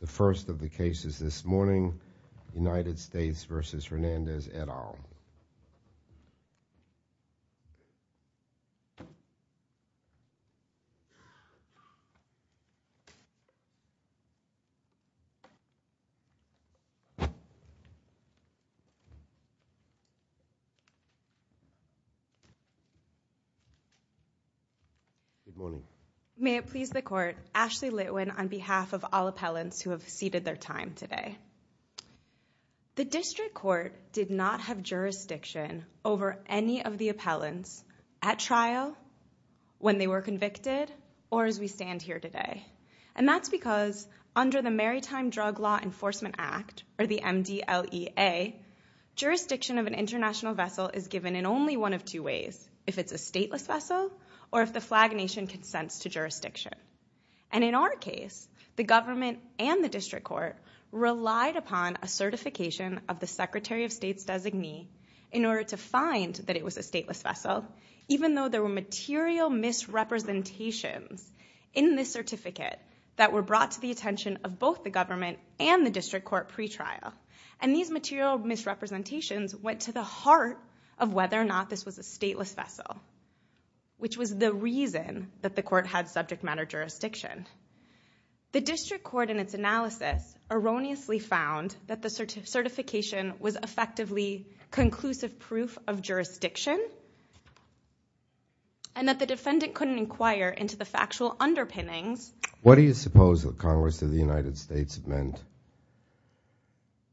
The first of the cases this morning, United States v. Hernandez, et al. May it please the Court, Ashley Litwin on behalf of all appellants who have ceded their time today. The District Court did not have jurisdiction over any of the appellants at trial, when they were convicted, or as we stand here today. And that's because under the Maritime Drug Law Enforcement Act, or the MDLEA, jurisdiction of an international vessel is given in only one of two ways, if it's a stateless vessel, or if the flag nation consents to jurisdiction. And in our case, the government and the District Court relied upon a certification of the Secretary of State's designee in order to find that it was a stateless vessel, even though there were material misrepresentations in this certificate that were brought to the attention of both the government and the District Court pretrial. And these material misrepresentations went to the heart of whether or not this was a stateless vessel, which was the reason that the Court had subject matter jurisdiction. The District Court in its analysis erroneously found that the certification was effectively conclusive proof of jurisdiction, and that the defendant couldn't inquire into the factual underpinnings. What do you suppose the Congress of the United States meant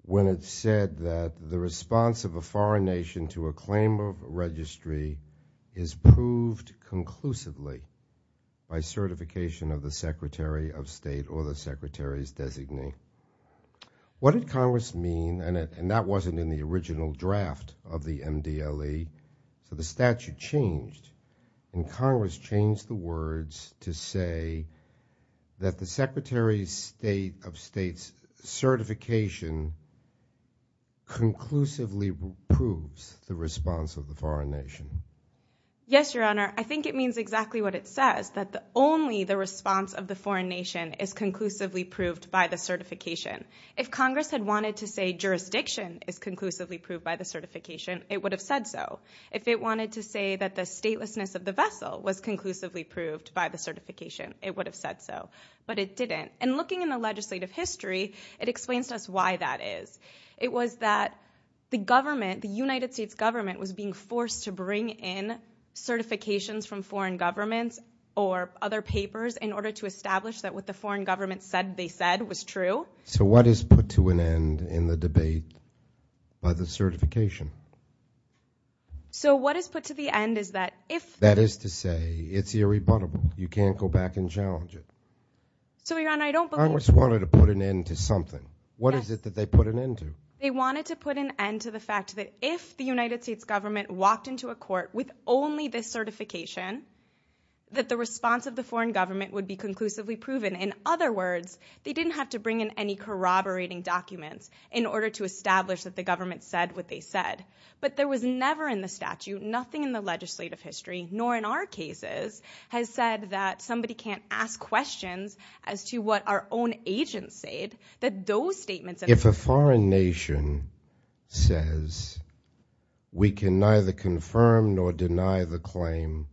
when it said that the response of a foreign nation to a claim of registry is proved conclusively by certification of the Secretary of State or the Secretary's designee? What did Congress mean, and that wasn't in the original draft of the MDLEA, so the statute changed, and Congress changed the words to say that the Secretary of State's certification conclusively proves the response of the foreign nation. Yes, Your Honor. I think it means exactly what it says, that only the response of the foreign nation is conclusively proved by the certification. If Congress had wanted to say jurisdiction is conclusively proved by the certification, it would have said so. If it was conclusively proved by the certification, it would have said so, but it didn't. And looking in the legislative history, it explains to us why that is. It was that the government, the United States government, was being forced to bring in certifications from foreign governments or other papers in order to establish that what the foreign government said they said was true. So what is put to an end in the debate by the certification? So what is put to the end is that if... That is to say, it's irrebuttable. You can't go back and challenge it. So, Your Honor, I don't believe... Congress wanted to put an end to something. What is it that they put an end to? They wanted to put an end to the fact that if the United States government walked into a court with only this certification, that the response of the foreign government would be conclusively proven. In other words, they didn't have to bring in any corroborating documents in order to establish that the government said what they said. But there was never in the legislative history, nor in our cases, has said that somebody can't ask questions as to what our own agents said, that those statements... If a foreign nation says, we can neither confirm nor deny the claim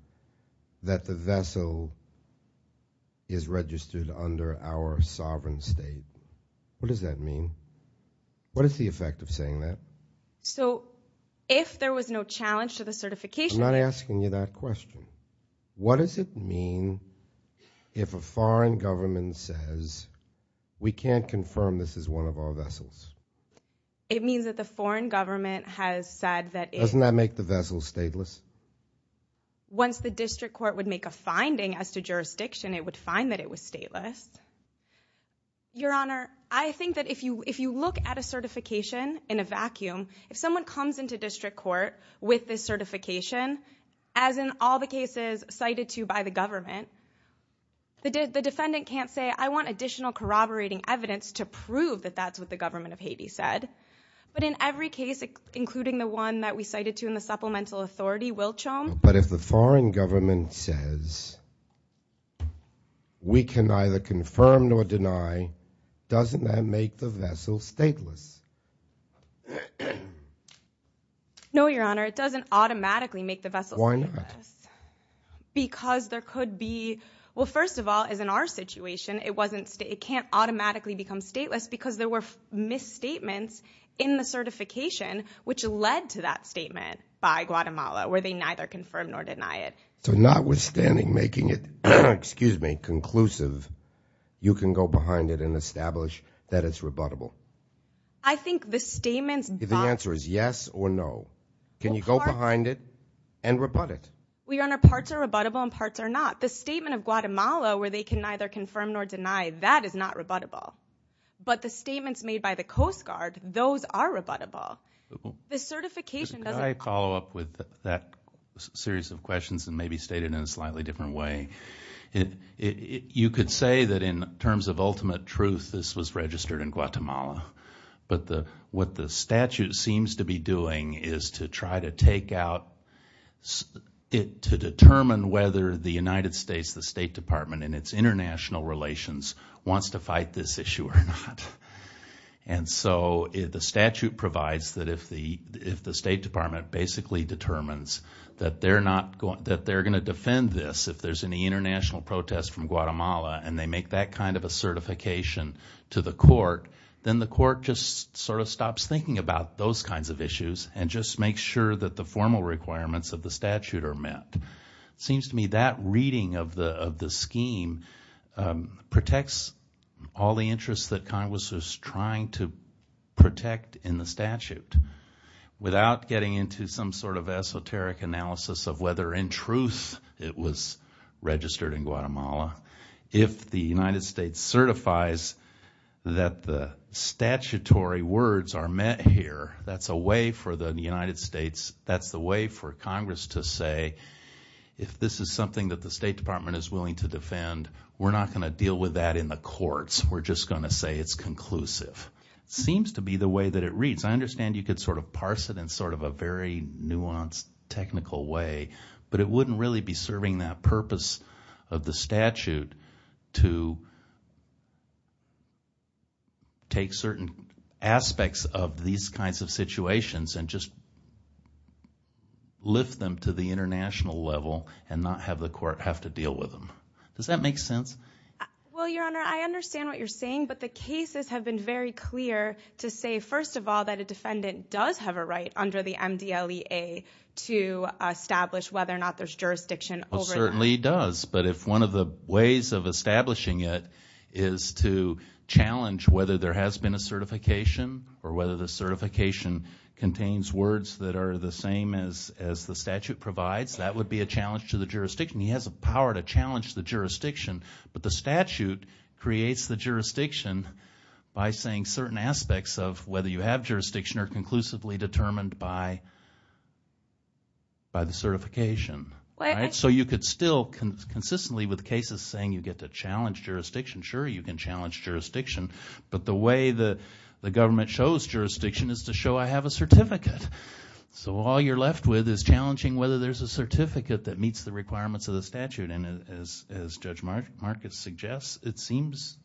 that the vessel is registered under our sovereign state, what does that mean? What is the effect of saying that? So, if there was no challenge to the certification... I'm not asking you that question. What does it mean if a foreign government says, we can't confirm this is one of our vessels? It means that the foreign government has said that it... Doesn't that make the vessel stateless? Once the district court would make a finding as to jurisdiction, it would find that it was stateless. Your Honor, I think that if you look at a certification in a vacuum, if someone comes into district court with this certification, as in all the cases cited to by the government, the defendant can't say, I want additional corroborating evidence to prove that that's what the government of Haiti said. But in every case, including the one that we cited to in the supplemental authority, Wiltshom... If we can neither confirm nor deny, doesn't that make the vessel stateless? No, Your Honor, it doesn't automatically make the vessel stateless. Why not? Because there could be... Well, first of all, as in our situation, it can't automatically become stateless because there were misstatements in the certification, which led to that statement by Guatemala, where they neither confirm nor deny it. So notwithstanding making it, excuse me, conclusive, you can go behind it and establish that it's rebuttable? I think the statements... The answer is yes or no. Can you go behind it and rebut it? Well, Your Honor, parts are rebuttable and parts are not. The statement of Guatemala, where they can neither confirm nor deny, that is not rebuttable. But the statements made by the Coast Guard, those are rebuttable. The certification doesn't... Could I follow up with that series of questions and maybe state it in a slightly different way? You could say that in terms of ultimate truth, this was registered in Guatemala. But what the statute seems to be doing is to try to take out... To determine whether the United States, the State Department, and its international relations wants to fight this issue or not. And so the statute provides that if the State Department basically determines that they're going to defend this if there's any international protest from Guatemala, and they make that kind of a certification to the court, then the court just sort of stops thinking about those kinds of issues and just makes sure that the formal requirements of the statute are met. Seems to me that reading of the scheme protects all the interests that Congress is trying to protect in the statute. Without getting into some sort of esoteric analysis of whether in truth it was registered in Guatemala. If the United States certifies that the statutory words are met here, that's a way for the United States, that's the way for Congress to say if this is something that the State Department is willing to defend, we're not going to deal with that in the courts. We're just going to say it's conclusive. Seems to be the way that it reads. I understand you could sort of parse it in sort of a very nuanced technical way. But it wouldn't really be serving that purpose of the statute to... Take certain aspects of these kinds of situations and just... And not have the court have to deal with them. Does that make sense? Well, Your Honor, I understand what you're saying. But the cases have been very clear to say, first of all, that a defendant does have a right under the MDLEA to establish whether or not there's jurisdiction over that. Well, certainly does. But if one of the ways of establishing it is to challenge whether there has been a certification or whether the certification contains words that are the same as the statute provides, that would be a challenge to the jurisdiction. He has a power to challenge the jurisdiction. But the statute creates the jurisdiction by saying certain aspects of whether you have jurisdiction are conclusively determined by the certification. So you could still consistently with cases saying you get to challenge jurisdiction, sure, you can challenge jurisdiction. But the way the government shows jurisdiction is to show I have a certificate. So all you're left with is challenging whether there's a certificate that meets the requirements of the statute. And as Judge Marcus suggests, it seems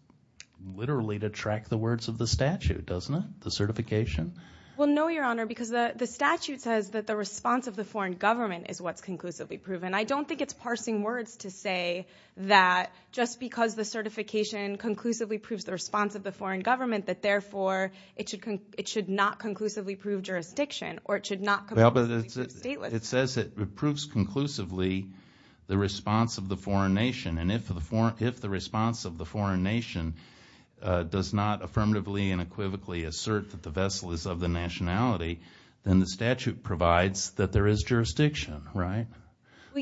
literally to track the words of the statute, doesn't it? The certification? Well, no, Your Honor, because the statute says that the response of the foreign government is what's conclusively proven. I don't think it's parsing words to say that just because the certification conclusively proves the response of the foreign government that therefore it should not conclusively prove jurisdiction or it should not conclusively prove stateless. Well, but it says it proves conclusively the response of the foreign nation. And if the response of the foreign nation does not affirmatively and unequivocally assert that the vessel is of the nationality, then the statute provides that there is jurisdiction, right?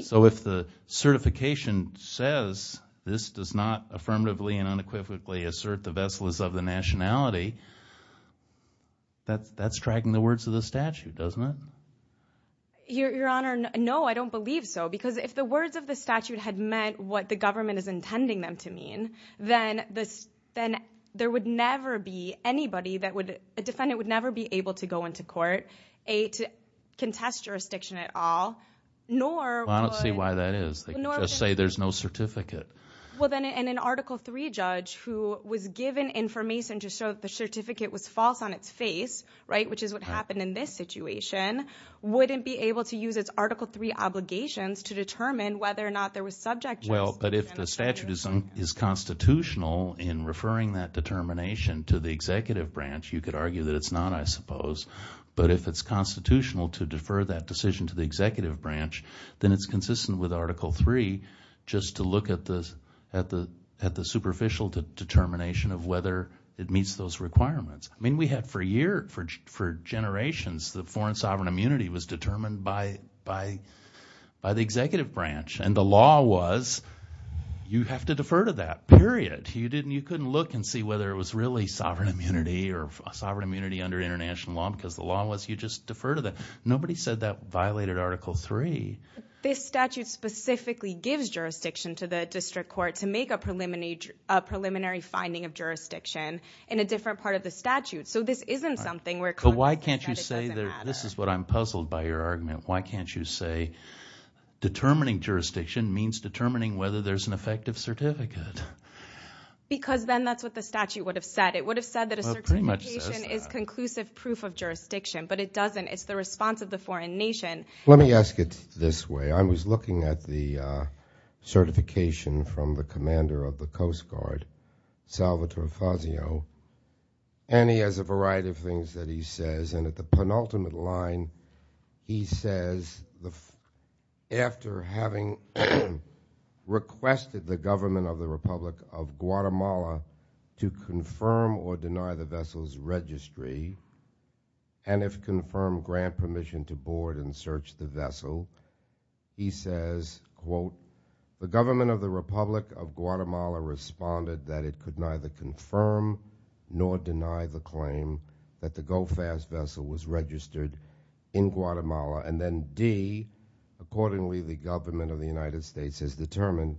So if the certification says this does not affirmatively and unequivocally assert the vessel is of the nationality, that's tracking the words of the statute, doesn't it? Your Honor, no, I don't believe so. Because if the words of the statute had meant what the government is intending them to mean, then there would never be anybody that would, a defendant would never be able to go into court, A, to contest jurisdiction at all, nor would... Well, I don't see why that is. They can just say there's no certificate. Well, then an Article III judge who was given information to show that the certificate was false on its face, right, which is what happened in this situation, wouldn't be able to use its Article III obligations to determine whether or not there was subject... Well, but if the statute is constitutional in referring that determination to the executive branch, you could argue that it's not, I suppose. But if it's constitutional to defer that decision to the executive branch, then it's consistent with Article III just to look at the superficial determination of whether it meets those requirements. I mean, we had for a year, for generations, that foreign sovereign immunity was determined by the executive branch. And the law was, you have to defer to that, period. You couldn't look and see whether it was really sovereign immunity or sovereign immunity under international law because the law was you just defer to that. Nobody said that violated Article III. This statute specifically gives jurisdiction to the district court to make a preliminary finding of jurisdiction in a different part of the statute. So this isn't something where... But why can't you say that, this is what I'm puzzled by your argument, why can't you say determining jurisdiction means determining whether there's an effective certificate? Because then that's what the statute would have said. It would have said that a certification is conclusive proof of jurisdiction, but it doesn't. It's the response of the foreign nation. Let me ask it this way. I was looking at the certification from the commander of the Coast Guard, Salvatore Fazio, and he has a variety of things that he says. And at the penultimate line, he says, after having requested the government of the Republic of Guatemala to confirm or deny the vessel's registry, and if confirmed, grant permission to board and search the vessel, he says, quote, the government of the Republic of Guatemala responded that it could neither confirm nor deny the claim that the GOFAS vessel was registered in Guatemala, and then D, accordingly, the government of the United States has determined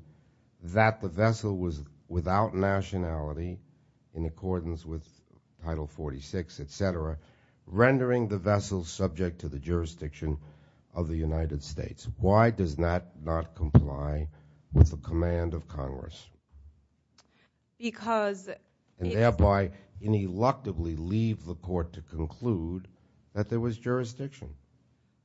that the vessel was without nationality in accordance with Title 46, et cetera, rendering the vessel subject to the jurisdiction of the United States. Why does that not comply with the command of Congress? Because... And thereby, ineluctably leave the court to conclude that there was jurisdiction.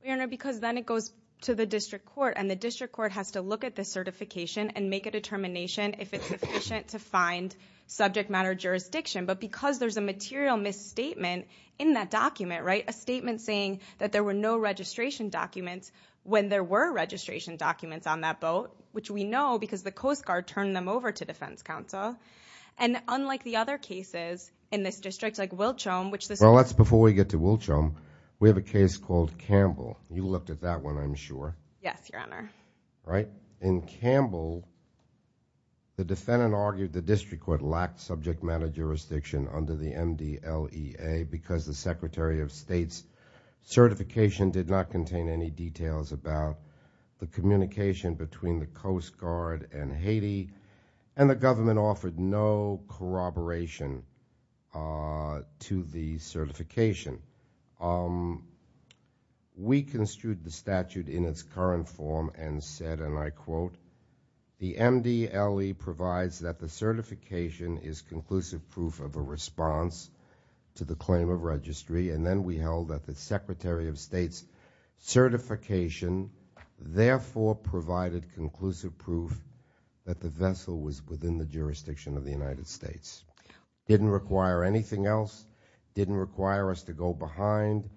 Your Honor, because then it goes to the district court, and the district court has to look at the certification and make a determination if it's sufficient to find subject matter jurisdiction, but because there's a material misstatement in that document, right, a statement saying that there were no registration documents when there were registration documents on that boat, which we know because the Coast Guard turned them over to defense counsel, and unlike the other cases in this district, like Wilchelm, which this... Well, that's before we get to Wilchelm. We have a case called Campbell. You looked at that one, I'm sure. Yes, Your Honor. Right? In Campbell, the defendant argued the district court lacked subject matter jurisdiction under the MDLEA because the Secretary of State's certification did not contain any details about the communication between the Coast Guard and Haiti, and the government offered no corroboration to the certification. We construed the statute in its current form and said, and I quote, the MDLE provides that the certification is conclusive proof of a response to the claim of registry, and then we held that the Secretary of State's certification therefore provided conclusive proof that the vessel was within the jurisdiction of the United States. Didn't require anything else, didn't require us to go behind,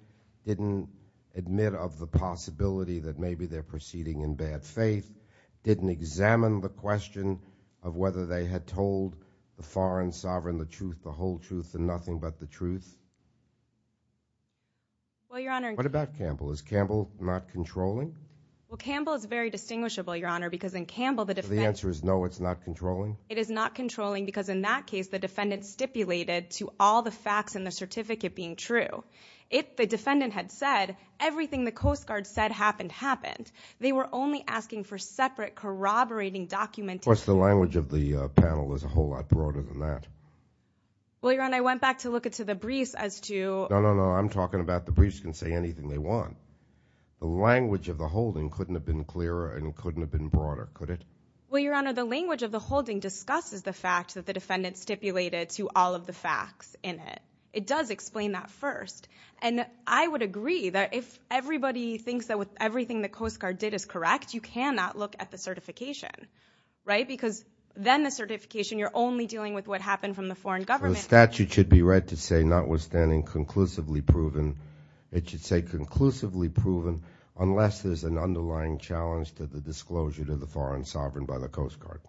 didn't admit of the possibility that maybe they're proceeding in bad faith, didn't examine the question of whether they had told the foreign sovereign the truth, the whole truth, and nothing but the truth? Well, Your Honor... What about Campbell? Is Campbell not controlling? Well, Campbell is very distinguishable, Your Honor, because in Campbell, the defense... The answer is no, it's not controlling? It is not controlling, because in that case, the defendant stipulated to all the facts in the certificate being true. If the defendant had said, everything the Coast Guard said happened, happened. They were only asking for separate corroborating documentation... Of course, the language of the panel is a whole lot broader than that. Well, Your Honor, I went back to look into the briefs as to... No, no, no, I'm talking about the briefs can say anything they want. The language of the holding couldn't have been clearer and couldn't have been broader, could it? Well, Your Honor, the language of the holding discusses the fact that the defendant stipulated to all of the facts in it. It does explain that first. And I would agree that if everybody thinks that with everything the Coast Guard did is correct, you cannot look at the certification, right? Because then the certification, you're only dealing with what happened from the foreign government... The statute should be read to say, notwithstanding conclusively proven, it should say conclusively proven unless there's an underlying challenge to the disclosure to the foreign sovereign by the Coast Guard.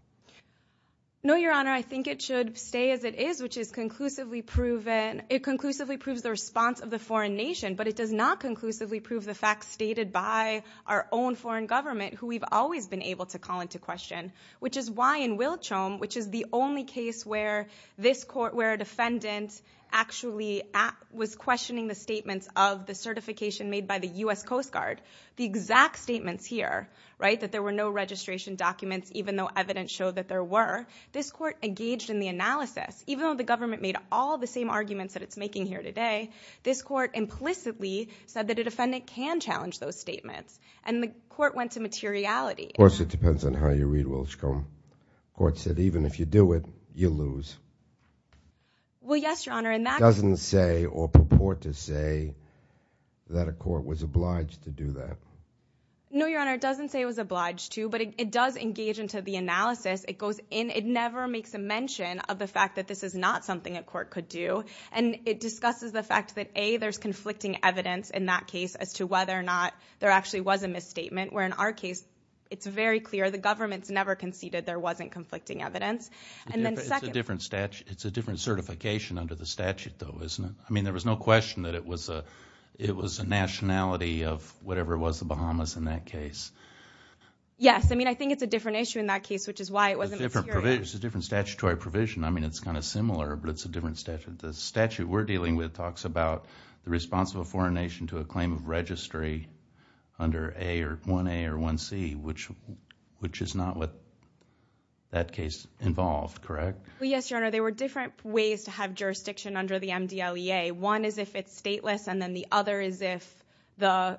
No, Your Honor, I think it should stay as it is, which is conclusively proven. It conclusively proves the response of the foreign nation, but it does not conclusively prove the facts stated by our own foreign government, who we've always been able to call into question, which is why in Wiltrom, which is the only case where this court, where the exact statements here, right, that there were no registration documents, even though evidence showed that there were, this court engaged in the analysis. Even though the government made all the same arguments that it's making here today, this court implicitly said that a defendant can challenge those statements. And the court went to materiality. Of course, it depends on how you read Wiltrom. The court said, even if you do it, you lose. Well, yes, Your Honor, and that... No, Your Honor, it doesn't say it was obliged to, but it does engage into the analysis. It goes in, it never makes a mention of the fact that this is not something a court could do. And it discusses the fact that, A, there's conflicting evidence in that case as to whether or not there actually was a misstatement, where in our case, it's very clear the government's never conceded there wasn't conflicting evidence. And then second... It's a different statute. It's a different certification under the statute, though, isn't it? I mean, there was no question that it was a nationality of whatever it was, the Bahamas in that case. Yes, I mean, I think it's a different issue in that case, which is why it wasn't material. It's a different statutory provision. I mean, it's kind of similar, but it's a different statute. The statute we're dealing with talks about the response of a foreign nation to a claim of registry under 1A or 1C, which is not what that case involved, correct? Yes, Your Honor, there were different ways to have jurisdiction under the MDLEA. One is if it's stateless, and then the other is if the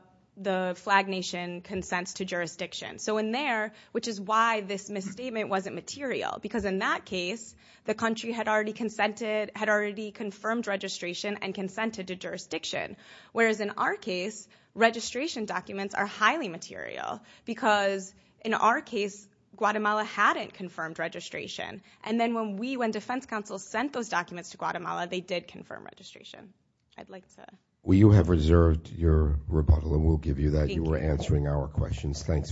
flag nation consents to jurisdiction. So in there, which is why this misstatement wasn't material, because in that case, the country had already consented... Had already confirmed registration and consented to jurisdiction, whereas in our case, registration documents are highly material, because in our case, Guatemala hadn't confirmed registration. And then when we, when defense counsel sent those documents to Guatemala, they did confirm registration. I'd like to... Well, you have reserved your rebuttal, and we'll give you that. Thank you. You were answering our questions. Good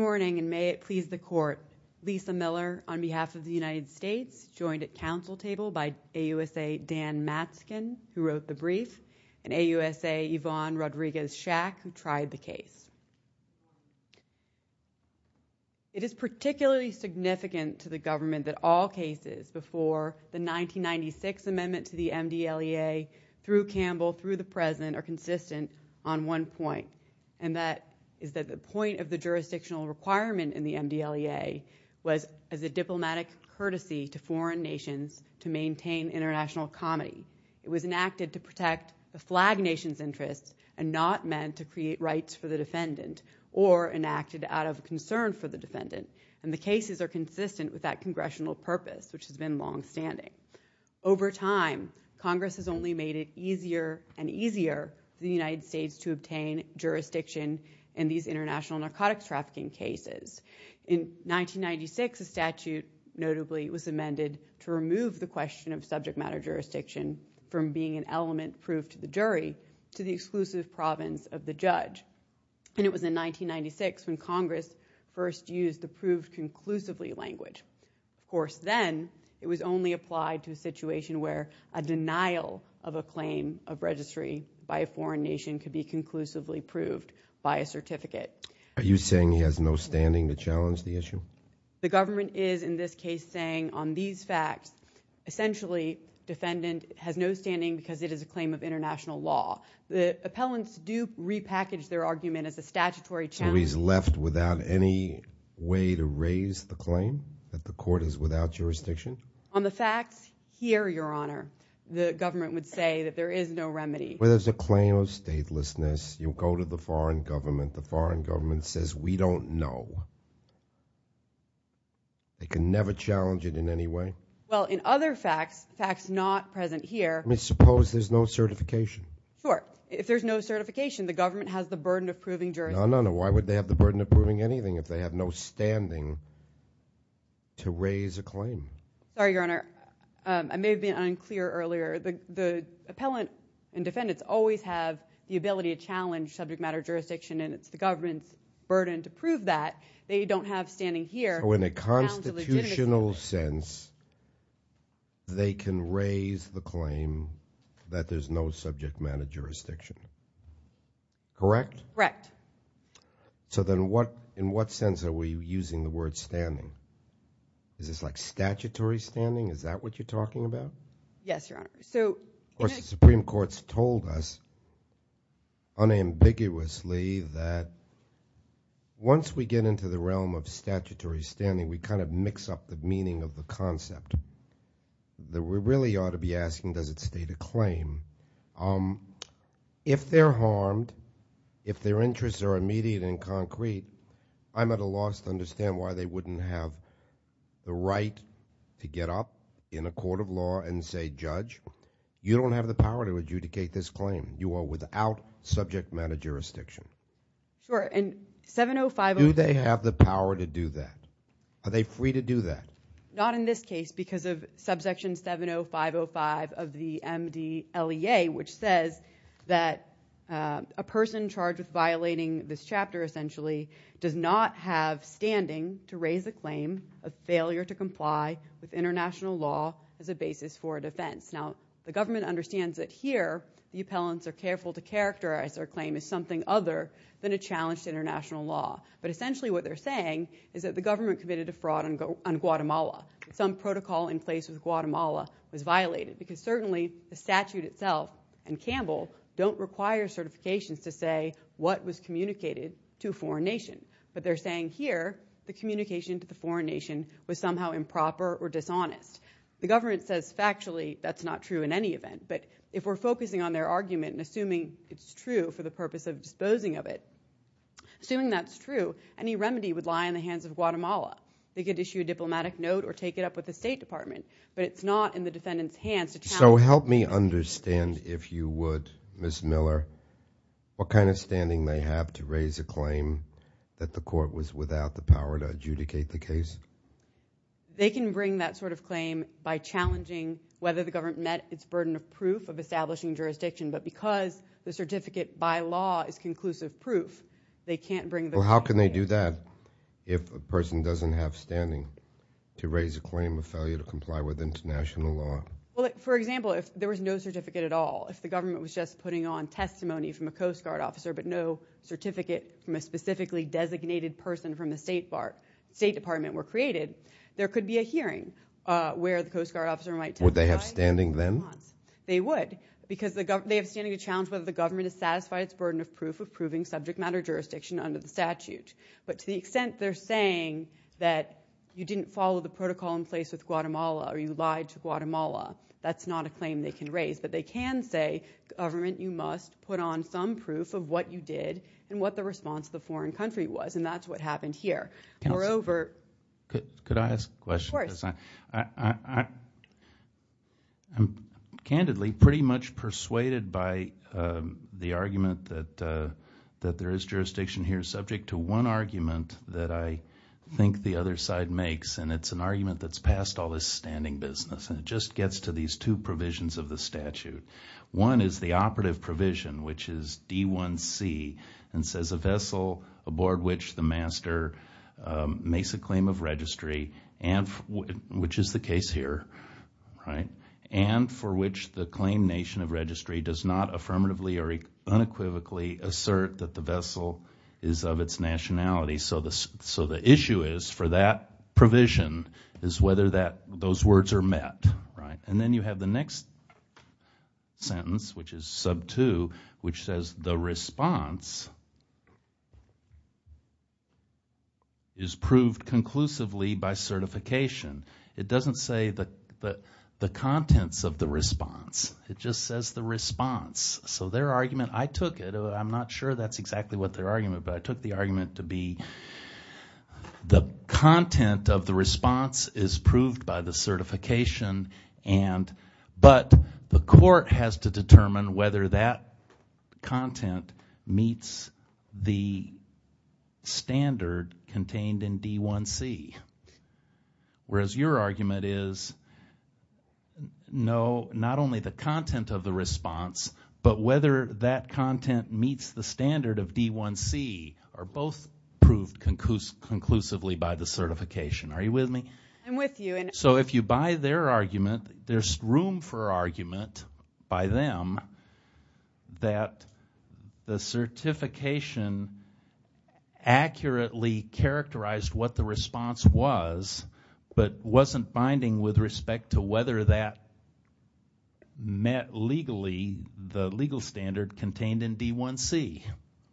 morning, and may it please the court. Lisa Miller, on behalf of the United States, joined at council table by AUSA Dan Matzkin, who wrote the brief, and AUSA Yvonne Rodriguez-Shack, who tried the case. It is particularly significant to the government that all cases before the 1996 amendment to the MDLEA, through Campbell, through the president, are consistent on one point, and that is that the point of the jurisdictional requirement in the MDLEA was as a diplomatic courtesy to foreign nations to maintain international comity. It was enacted to protect the flag nation's interests, and not meant to create rights for the defendant, or enacted out of concern for the defendant. And the cases are consistent with that congressional purpose, which has been longstanding. Over time, Congress has only made it easier and easier for the United States to obtain jurisdiction in these international narcotics trafficking cases. In 1996, a statute, notably, was amended to remove the question of subject matter jurisdiction from being an element proved to the jury, to the exclusive province of the judge. And it was in 1996 when Congress first used the proved conclusively language. Of course, then, it was only applied to a situation where a denial of a claim of registry by a foreign nation could be conclusively proved by a certificate. Are you saying he has no standing to challenge the issue? The government is, in this case, saying on these facts, essentially, defendant has no standing because it is a claim of international law. The appellants do repackage their argument as a statutory challenge. So he's left without any way to raise the claim that the court is without jurisdiction? On the facts here, Your Honor, the government would say that there is no remedy. Well, there's a claim of statelessness. You'll go to the foreign government. The foreign government says, we don't know. They can never challenge it in any way? Well, in other facts, facts not present here. I mean, suppose there's no certification. Sure. If there's no certification, the government has the burden of proving jurisdiction. No, no, no. Why would they have the burden of proving anything if they have no standing to raise a claim? Sorry, Your Honor. I may have been unclear earlier. The appellant and defendants always have the ability to challenge subject matter jurisdiction, and it's the government's burden to prove that. They don't have standing here. So in a constitutional sense, they can raise the claim that there's no subject matter jurisdiction. Correct? Correct. So then in what sense are we using the word standing? Is this like statutory standing? Is that what you're talking about? Yes, Your Honor. So- Of course, the Supreme Court's told us unambiguously that once we get into the realm of statutory standing, we kind of mix up the meaning of the concept. That we really ought to be asking, does it state a claim? If they're harmed, if their interests are immediate and concrete, I'm at a loss to understand why they wouldn't have the right to get up in a court of law and say, Judge, you don't have the power to adjudicate this claim. You are without subject matter jurisdiction. Sure, and 7050- Do they have the power to do that? Are they free to do that? Not in this case because of subsection 70505 of the MDLEA, which says that a person charged with violating this chapter essentially does not have standing to raise a claim of failure to comply with international law as a basis for a defense. Now, the government understands that here, the appellants are careful to characterize their claim as something other than a challenged international law. But essentially what they're saying is that the government committed a fraud on Guatemala. Some protocol in place with Guatemala was violated because certainly the statute itself and Campbell don't require certifications to say what was communicated to a foreign nation. But they're saying here, the communication to the foreign nation was somehow improper or dishonest. The government says factually, that's not true in any event. But if we're focusing on their argument and assuming it's true for the purpose of disposing of it, assuming that's true, any remedy would lie in the hands of Guatemala. They could issue a diplomatic note or take it up with the State Department. But it's not in the defendant's hands to- So help me understand if you would, Ms. Miller, what kind of standing they have to raise a claim that the court was without the power to adjudicate the case. They can bring that sort of claim by challenging whether the government met its burden of proof of establishing jurisdiction. But because the certificate by law is conclusive proof, they can't bring- Well, how can they do that if a person doesn't have standing to raise a claim of failure to comply with international law? Well, for example, if there was no certificate at all, if the government was just putting on testimony from a Coast Guard officer, but no certificate from a specifically designated person from the State Department were created, there could be a hearing where the Coast Guard officer might- Would they have standing then? They would, because they have standing to challenge whether the government has satisfied its burden of proof of proving subject matter jurisdiction under the statute. But to the extent they're saying that you didn't follow the protocol in place with Guatemala, or you lied to Guatemala, that's not a claim they can raise. But they can say, government, you must put on some proof of what you did and what the response of the foreign country was. And that's what happened here. Moreover- Could I ask a question? Of course. I'm candidly pretty much persuaded by the argument that there is jurisdiction here subject to one argument that I think the other side makes. And it's an argument that's passed all this standing business. And it just gets to these two provisions of the statute. One is the operative provision, which is D1C, and says, a vessel aboard which the master makes a claim of registry, which is the case here, right, and for which the claim nation of registry does not affirmatively or unequivocally assert that the vessel is of its nationality. So the issue is, for that provision, is whether those words are met, right? And then you have the next sentence, which is sub 2, which says, the response is proved conclusively by certification. It doesn't say the contents of the response. It just says the response. So their argument, I took it, I'm not sure that's exactly what their argument, but I took the argument to be, the content of the response is proved by the certification. And, but the court has to determine whether that content meets the standard contained in D1C. Whereas your argument is, no, not only the content of the response, but whether that content meets the standard of D1C are both proved conclusively by the certification. Are you with me? I'm with you. So if you buy their argument, there's room for argument by them that the certification accurately characterized what the response was, but wasn't binding with respect to whether that met legally the legal standard contained in D1C,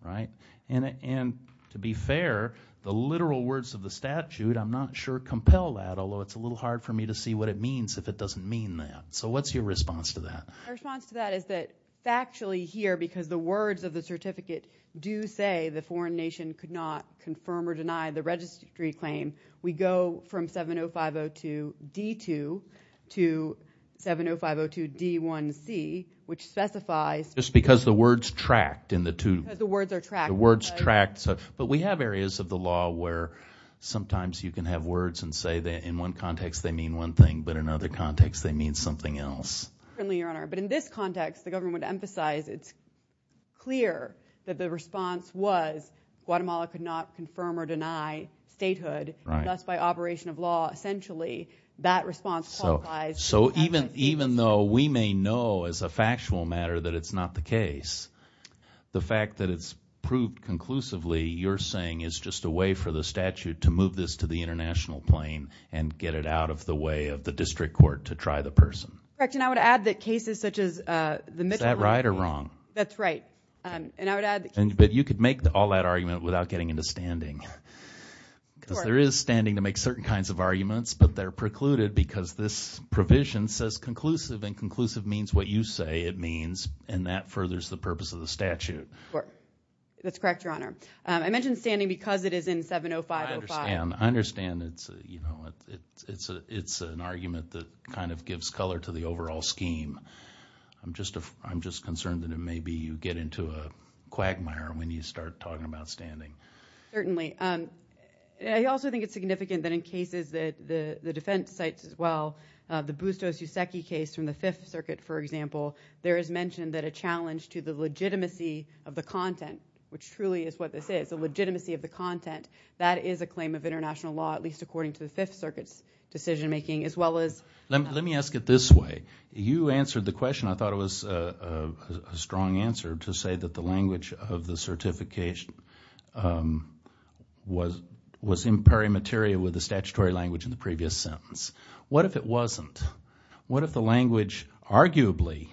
right? And to be fair, the literal words of the statute, I'm not sure compel that, although it's a little hard for me to see what it means if it doesn't mean that. So what's your response to that? My response to that is that factually here, because the words of the certificate do say the foreign nation could not confirm or deny the registry claim, we go from 70502D2 to 70502D1C, which specifies... Just because the words tracked in the two... Because the words are tracked. The words tracked. But we have areas of the law where sometimes you can have words and say that in one context, they mean one thing, but in other contexts, they mean something else. But in this context, the government would emphasize, it's clear that the response was Guatemala could not confirm or deny statehood. Thus, by operation of law, essentially, that response qualifies... So even though we may know as a factual matter that it's not the case, the fact that it's proved conclusively you're saying is just a way for the statute to move this to the international plane and get it out of the way of the district court to try the person. Correct. And I would add that cases such as the Mitchell... Is that right or wrong? That's right. And I would add... But you could make all that argument without getting into standing. Because there is standing to make certain kinds of arguments, but they're precluded because this provision says conclusive, and conclusive means what you say it means, and that furthers the purpose of the statute. That's correct, Your Honor. I mentioned standing because it is in 70505. I understand. It's an argument that kind of gives color to the overall scheme. I'm just concerned that it may be you get into a quagmire when you start talking about standing. Certainly. I also think it's significant that in cases that the defense sites as well, the Bustos-Youseki case from the Fifth Circuit, for example, there is mentioned that a challenge to the legitimacy of the content, which truly is what this is, the legitimacy of the content, that is a claim of international law, at least according to the Fifth Circuit's decision making, as well as... Let me ask it this way. You answered the question. I thought it was a strong answer to say that the language of the certification was in parimateria with the statutory language in the previous sentence. What if it wasn't? What if the language arguably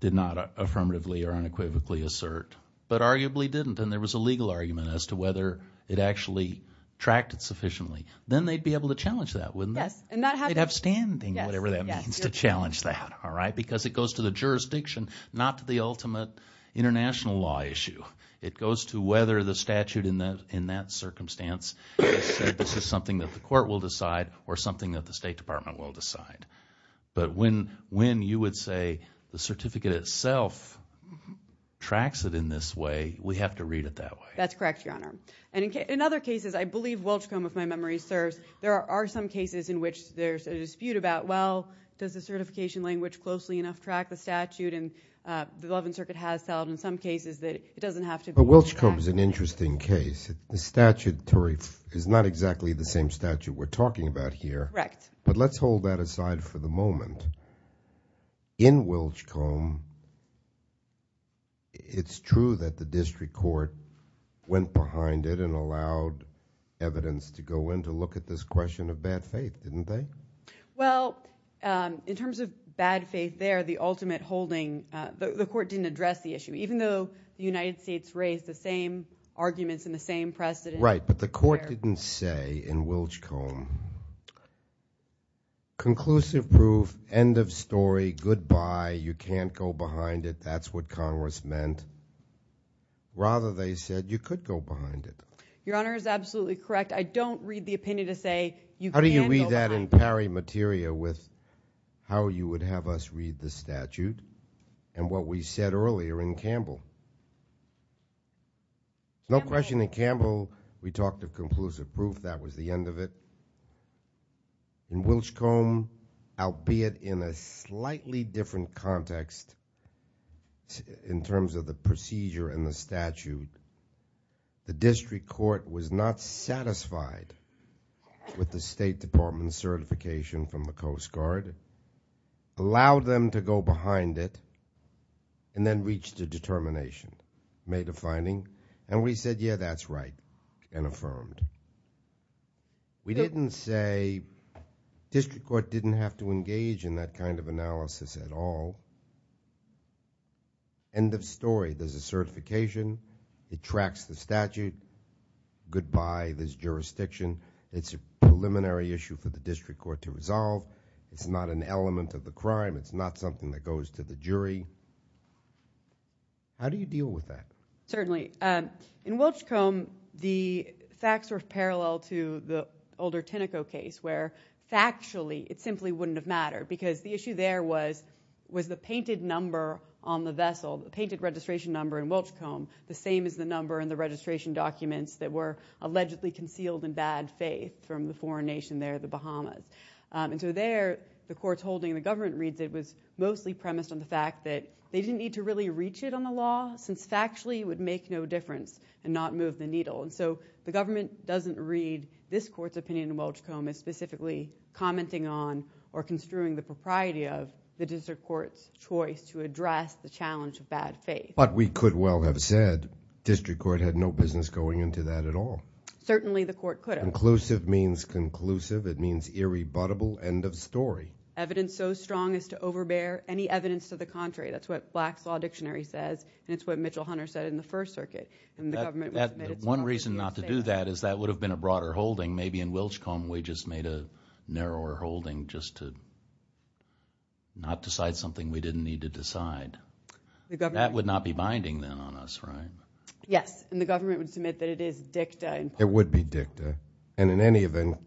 did not affirmatively or unequivocally assert, but arguably didn't, and there was a legal argument as to whether it actually tracked it sufficiently? Then they'd be able to challenge that, wouldn't they? They'd have standing, whatever that means, to challenge that, all right? Because it goes to jurisdiction, not to the ultimate international law issue. It goes to whether the statute in that circumstance said this is something that the court will decide or something that the State Department will decide. But when you would say the certificate itself tracks it in this way, we have to read it that way. That's correct, Your Honor. In other cases, I believe Welchcomb, if my memory serves, there are some cases in which there's a dispute about, does the certification language closely enough track the statute? The Eleventh Circuit has held in some cases that it doesn't have to be tracked. But Welchcomb is an interesting case. The statutory is not exactly the same statute we're talking about here. Correct. But let's hold that aside for the moment. In Welchcomb, it's true that the district court went behind it and evidence to go in to look at this question of bad faith, didn't they? Well, in terms of bad faith there, the ultimate holding, the court didn't address the issue. Even though the United States raised the same arguments and the same precedent. Right. But the court didn't say in Welchcomb, conclusive proof, end of story, goodbye, you can't go behind it, that's what Congress meant. Rather, they said you could go behind it. Your Honor is absolutely correct. I don't read the opinion to say you can't go behind it. How do you read that in pari materia with how you would have us read the statute and what we said earlier in Campbell? No question in Campbell, we talked of conclusive proof, that was the end of it. In Welchcomb, albeit in a slightly different context in terms of the procedure and the statute, the district court was not satisfied with the State Department's certification from the Coast Guard, allowed them to go behind it, and then reached a determination, made a finding, and we said, yeah, that's right, and affirmed. We didn't say district court didn't have to engage in that kind of analysis at all. End of story, there's a certification, it tracks the statute, goodbye, there's jurisdiction, it's a preliminary issue for the district court to resolve, it's not an element of the crime, it's not something that goes to the jury. How do you deal with that? Certainly. In Welchcomb, the facts were parallel to the older Tinoco case where factually it simply wouldn't have mattered because the issue there was the painted number on the vessel, the painted registration number in Welchcomb, the same as the number in the registration documents that were allegedly concealed in bad faith from the foreign nation there, the Bahamas. So there, the court's holding, the government reads it was mostly premised on the fact that they didn't need to really reach it on the law, since factually it would make no difference and not move the needle. So the government doesn't read this court's opinion in Welchcomb as specifically commenting on or construing the propriety of the district court's choice to address the challenge of bad faith. But we could well have said district court had no business going into that at all. Certainly the court could have. Conclusive means conclusive. It means irrebuttable, end of story. Evidence so strong as to overbear any evidence to the contrary. That's what Black's Law Dictionary says, and it's what Mitchell Hunter said in the First Circuit. And the government would admit it's wrong. One reason not to do that is that would have been a broader holding. Maybe in Welchcomb, we just made a narrower holding just to not decide something we didn't need to decide. That would not be binding then on us, right? Yes. And the government would submit that it is dicta. It would be dicta. And in any event,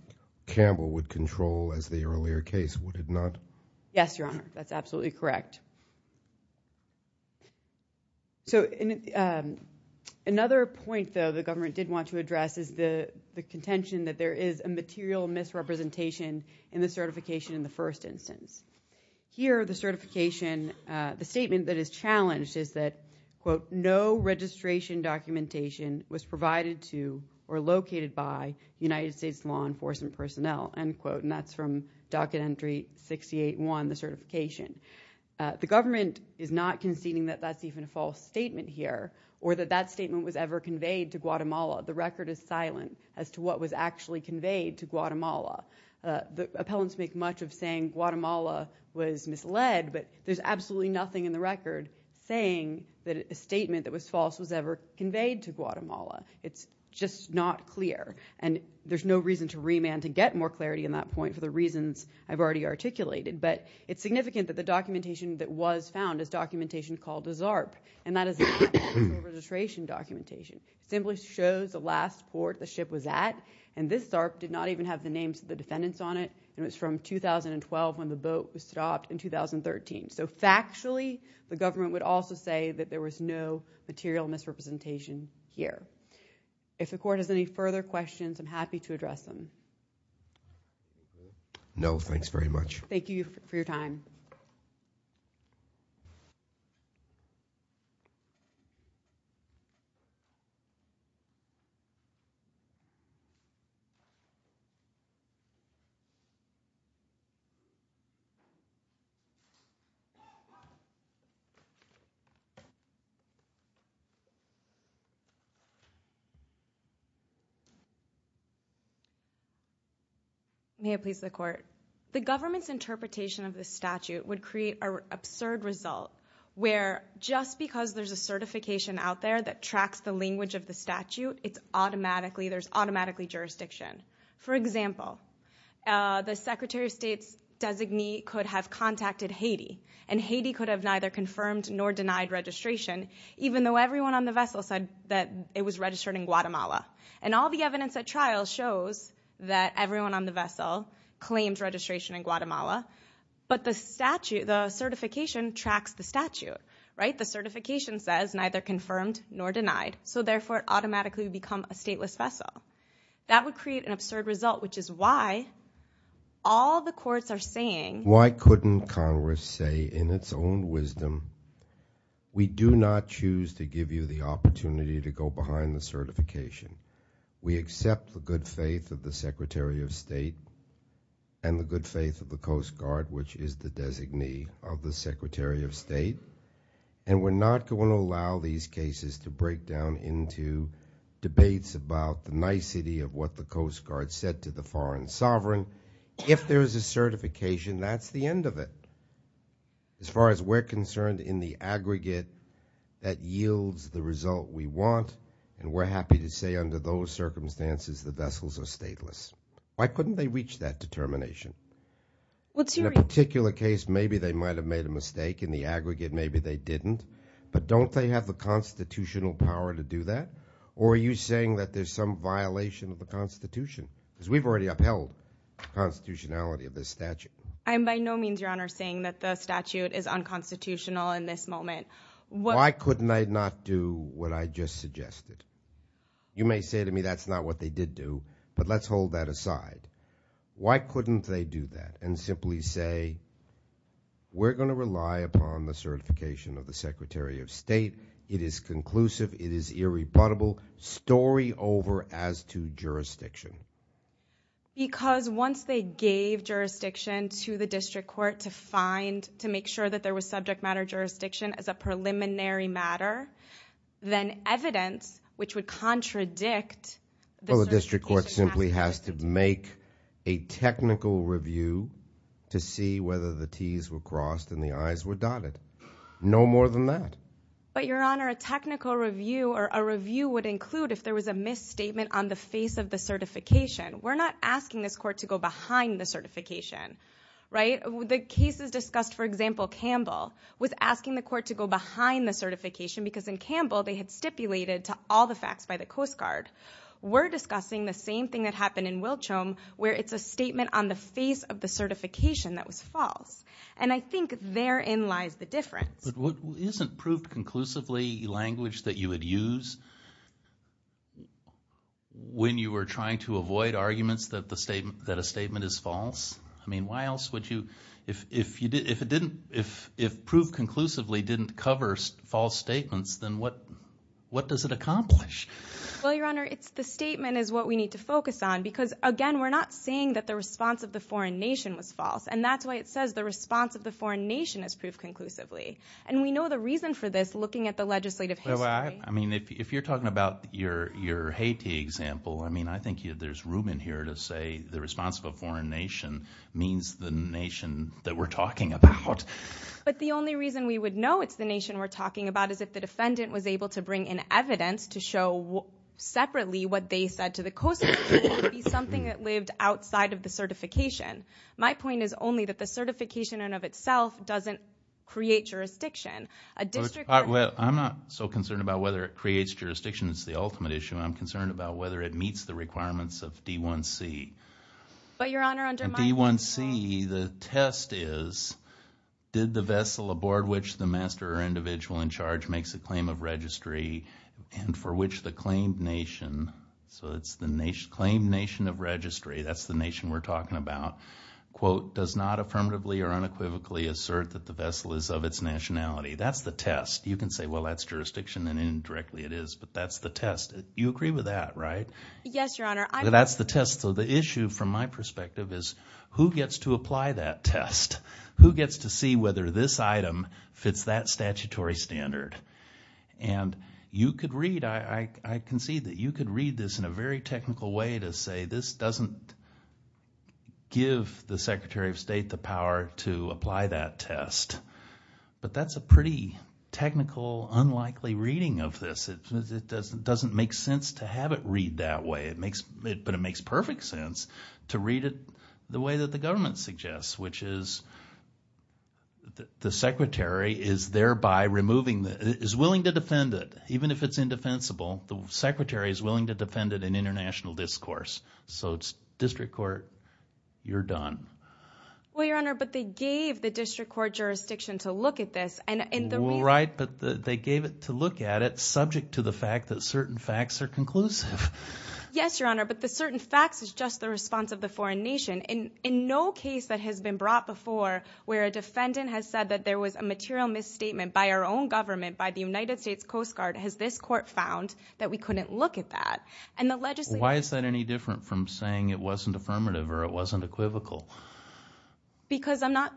Campbell would control as the earlier case, would it not? Yes, Your Honor. That's absolutely correct. So another point, though, the government did want to address is the contention that there is a material misrepresentation in the certification in the first instance. Here, the certification, the statement that is challenged is that, quote, no registration documentation was provided to or located by United States law enforcement personnel, end quote. And that's from docket entry 68-1, the certification. The government is not conceding that that's even a false statement here, or that that statement was ever conveyed to Guatemala. The record is silent as to what was actually conveyed to Guatemala. The appellants make much of saying Guatemala was misled, but there's absolutely nothing in the record saying that a statement that was false was ever conveyed to Guatemala. It's just not clear. And there's no reason to remand to get more clarity in that point for the reasons I've already articulated. But it's significant that the documentation that was found is documentation called a ZARP. And that is a registration documentation. It simply shows the last port the ship was at. And this ZARP did not even have the names of the defendants on it. And it was from 2012 when the boat was stopped in 2013. So factually, the government would also say that there was no material misrepresentation here. If the court has any further questions, I'm happy to address them. No, thanks very much. Thank you for your time. May it please the court. The government's interpretation of the statute would create an absurd result where just because there's a certification out there that tracks the language of the statute, there's automatically jurisdiction. For example, the Secretary of State's designee could have contacted Haiti. And Haiti could have neither confirmed nor denied registration, even though everyone on the vessel said that it was registered in Guatemala. And all the evidence at trial shows that everyone on the vessel claims registration in Guatemala. But the certification tracks the statute, right? The certification says neither confirmed nor denied. So therefore, it automatically would become a stateless vessel. That would create an absurd result, which is why all the courts are saying... Why couldn't Congress say in its own wisdom, we do not choose to give you the opportunity to go behind the certification. We accept the good faith of the Secretary of State and the good faith of the Coast Guard, which is the designee of the Secretary of State. And we're not going to allow these cases to break down into debates about the nicety of what the Coast Guard said to the foreign sovereign. If there is a certification, that's the end of it. As far as we're concerned in the aggregate, that yields the result we want. And we're happy to say under those circumstances, the vessels are stateless. Why couldn't they reach that determination? In a particular case, maybe they might have made a mistake. In the aggregate, maybe they didn't. But don't they have the constitutional power to do that? Or are you saying that there's some violation of the Constitution? Because we've already upheld the constitutionality of this statute. I am by no means, Your Honor, saying that the statute is unconstitutional in this moment. Why couldn't they not do what I just suggested? You may say to me, that's not what they did do. But let's hold that aside. Why couldn't they do that and simply say, we're going to rely upon the certification of the rebuttable story over as to jurisdiction? Because once they gave jurisdiction to the district court to find, to make sure that there was subject matter jurisdiction as a preliminary matter, then evidence which would contradict the district court simply has to make a technical review to see whether the T's were crossed and the I's were dotted. No more than that. But Your Honor, a technical review or a review would include if there was a misstatement on the face of the certification. We're not asking this court to go behind the certification, right? The cases discussed, for example, Campbell, was asking the court to go behind the certification because in Campbell, they had stipulated to all the facts by the Coast Guard. We're discussing the same thing that happened in Wilchelm, where it's a statement on the face of the certification that was false. And I think therein lies the difference. But isn't proved conclusively language that you would use when you were trying to avoid arguments that the statement, that a statement is false? I mean, why else would you, if, if you did, if it didn't, if, if proved conclusively didn't cover false statements, then what, what does it accomplish? Well, Your Honor, it's the statement is what we need to focus on. Because again, we're not saying that the response of the foreign nation was false. And that's why it says the response of the foreign nation is proved conclusively. And we know the reason for this looking at the legislative history. I mean, if you're talking about your, your Haiti example, I mean, I think there's room in here to say the response of a foreign nation means the nation that we're talking about. But the only reason we would know it's the nation we're talking about is if the defendant was able to bring in evidence to show separately what they said to the Coast Guard would be something that lived outside of the certification. My point is only that the certification in of itself doesn't create jurisdiction. A district... Well, I'm not so concerned about whether it creates jurisdiction. It's the ultimate issue. I'm concerned about whether it meets the requirements of D1C. But Your Honor, under my... D1C, the test is, did the vessel aboard which the master or individual in charge makes a claim of registry and for which the claimed nation, so it's the nation, claimed nation of registry, that's the nation we're talking about, quote, does not affirmatively or unequivocally assert that the vessel is of its nationality. That's the test. You can say, well, that's jurisdiction and indirectly it is, but that's the test. You agree with that, right? Yes, Your Honor. That's the test. So the issue from my perspective is who gets to apply that test? Who gets to see whether this item fits that statutory standard? And you could read, I can see that you could read this in a very technical way to say this doesn't give the Secretary of State the power to apply that test, but that's a pretty technical, unlikely reading of this. It doesn't make sense to have it read that way, but it makes perfect sense to read it the way that the government suggests, which is the Secretary is thereby removing, is willing to defend it, even if it's indefensible, the Secretary is willing to defend it in international discourse. So it's district court, you're done. Well, Your Honor, but they gave the district court jurisdiction to look at this and the- Right, but they gave it to look at it subject to the fact that certain facts are conclusive. Yes, Your Honor, but the certain facts is just the response of the foreign nation. And in no case that has been brought before where a defendant has said that there was a material misstatement by our own government, by the United States Coast Guard, has this court found that we couldn't look at that. And the legislature- Why is that any different from saying it wasn't affirmative or it wasn't equivocal? Because we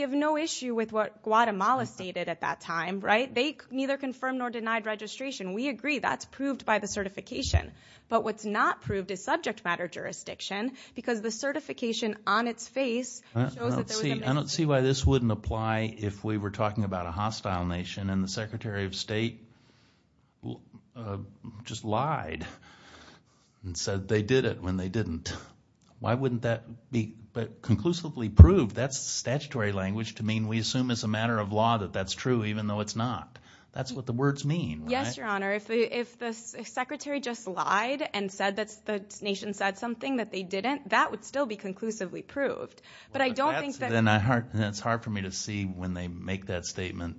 have no issue with what Guatemala stated at that time, right? They neither confirmed nor denied registration. We agree that's proved by the certification, but what's not proved is subject matter jurisdiction because the certification on its face shows that there was- I don't see why this wouldn't apply if we were talking about a hostile nation and the Secretary of State just lied and said they did it when they didn't. Why wouldn't that be- But conclusively proved, that's the statutory language to mean we assume as a matter of law that that's true even though it's not. That's what the words mean, right? Yes, Your Honor. If the Secretary just lied and said that the nation said something that they didn't, that would still be conclusively proved. But I don't think that- It's hard for me to see when they make that statement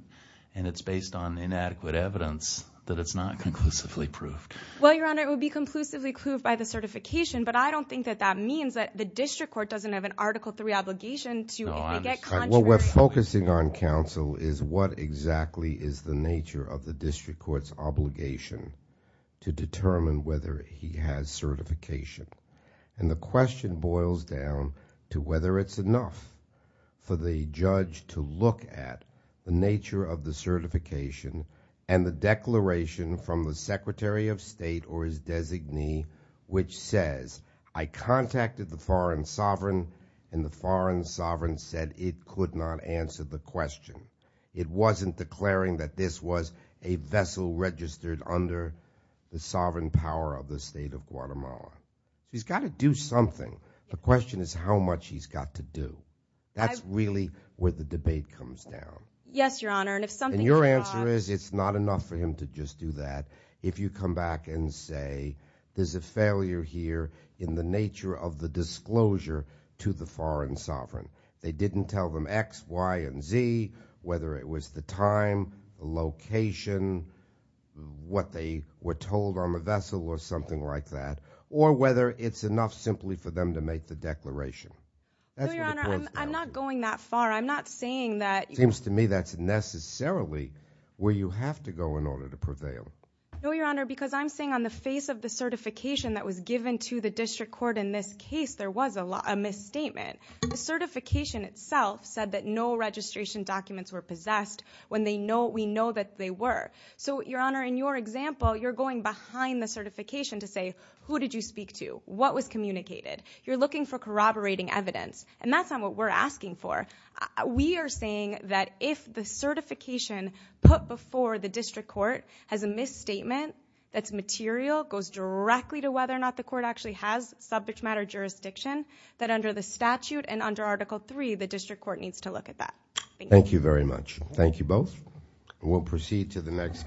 and it's based on inadequate evidence that it's not conclusively proved. Well, Your Honor, it would be conclusively proved by the certification, but I don't think that that means that the district court doesn't have an Article III obligation to- No, I'm just- What we're focusing on, counsel, is what exactly is the nature of the district court's obligation to determine whether he has certification. And the question boils down to whether it's enough. For the judge to look at the nature of the certification and the declaration from the Secretary of State or his designee which says, I contacted the foreign sovereign and the foreign sovereign said it could not answer the question. It wasn't declaring that this was a vessel registered under the sovereign power of the State of Guatemala. He's got to do something. The question is how much he's got to do. That's really where the debate comes down. Yes, Your Honor, and if something- And your answer is it's not enough for him to just do that. If you come back and say, there's a failure here in the nature of the disclosure to the foreign sovereign. They didn't tell them X, Y, and Z, whether it was the time, the location, what they were told on to make the declaration. That's what it boils down to. No, Your Honor, I'm not going that far. I'm not saying that- Seems to me that's necessarily where you have to go in order to prevail. No, Your Honor, because I'm saying on the face of the certification that was given to the district court in this case, there was a misstatement. The certification itself said that no registration documents were possessed when we know that they were. So, Your Honor, in your example, you're going behind the certification to say, who did you speak to? What was communicated? You're looking for corroborating evidence, and that's not what we're asking for. We are saying that if the certification put before the district court has a misstatement that's material, goes directly to whether or not the court actually has subject matter jurisdiction, that under the statute and under Article III, the district court needs to look at that. Thank you. Thank you very much. Thank you both. We'll proceed to the next.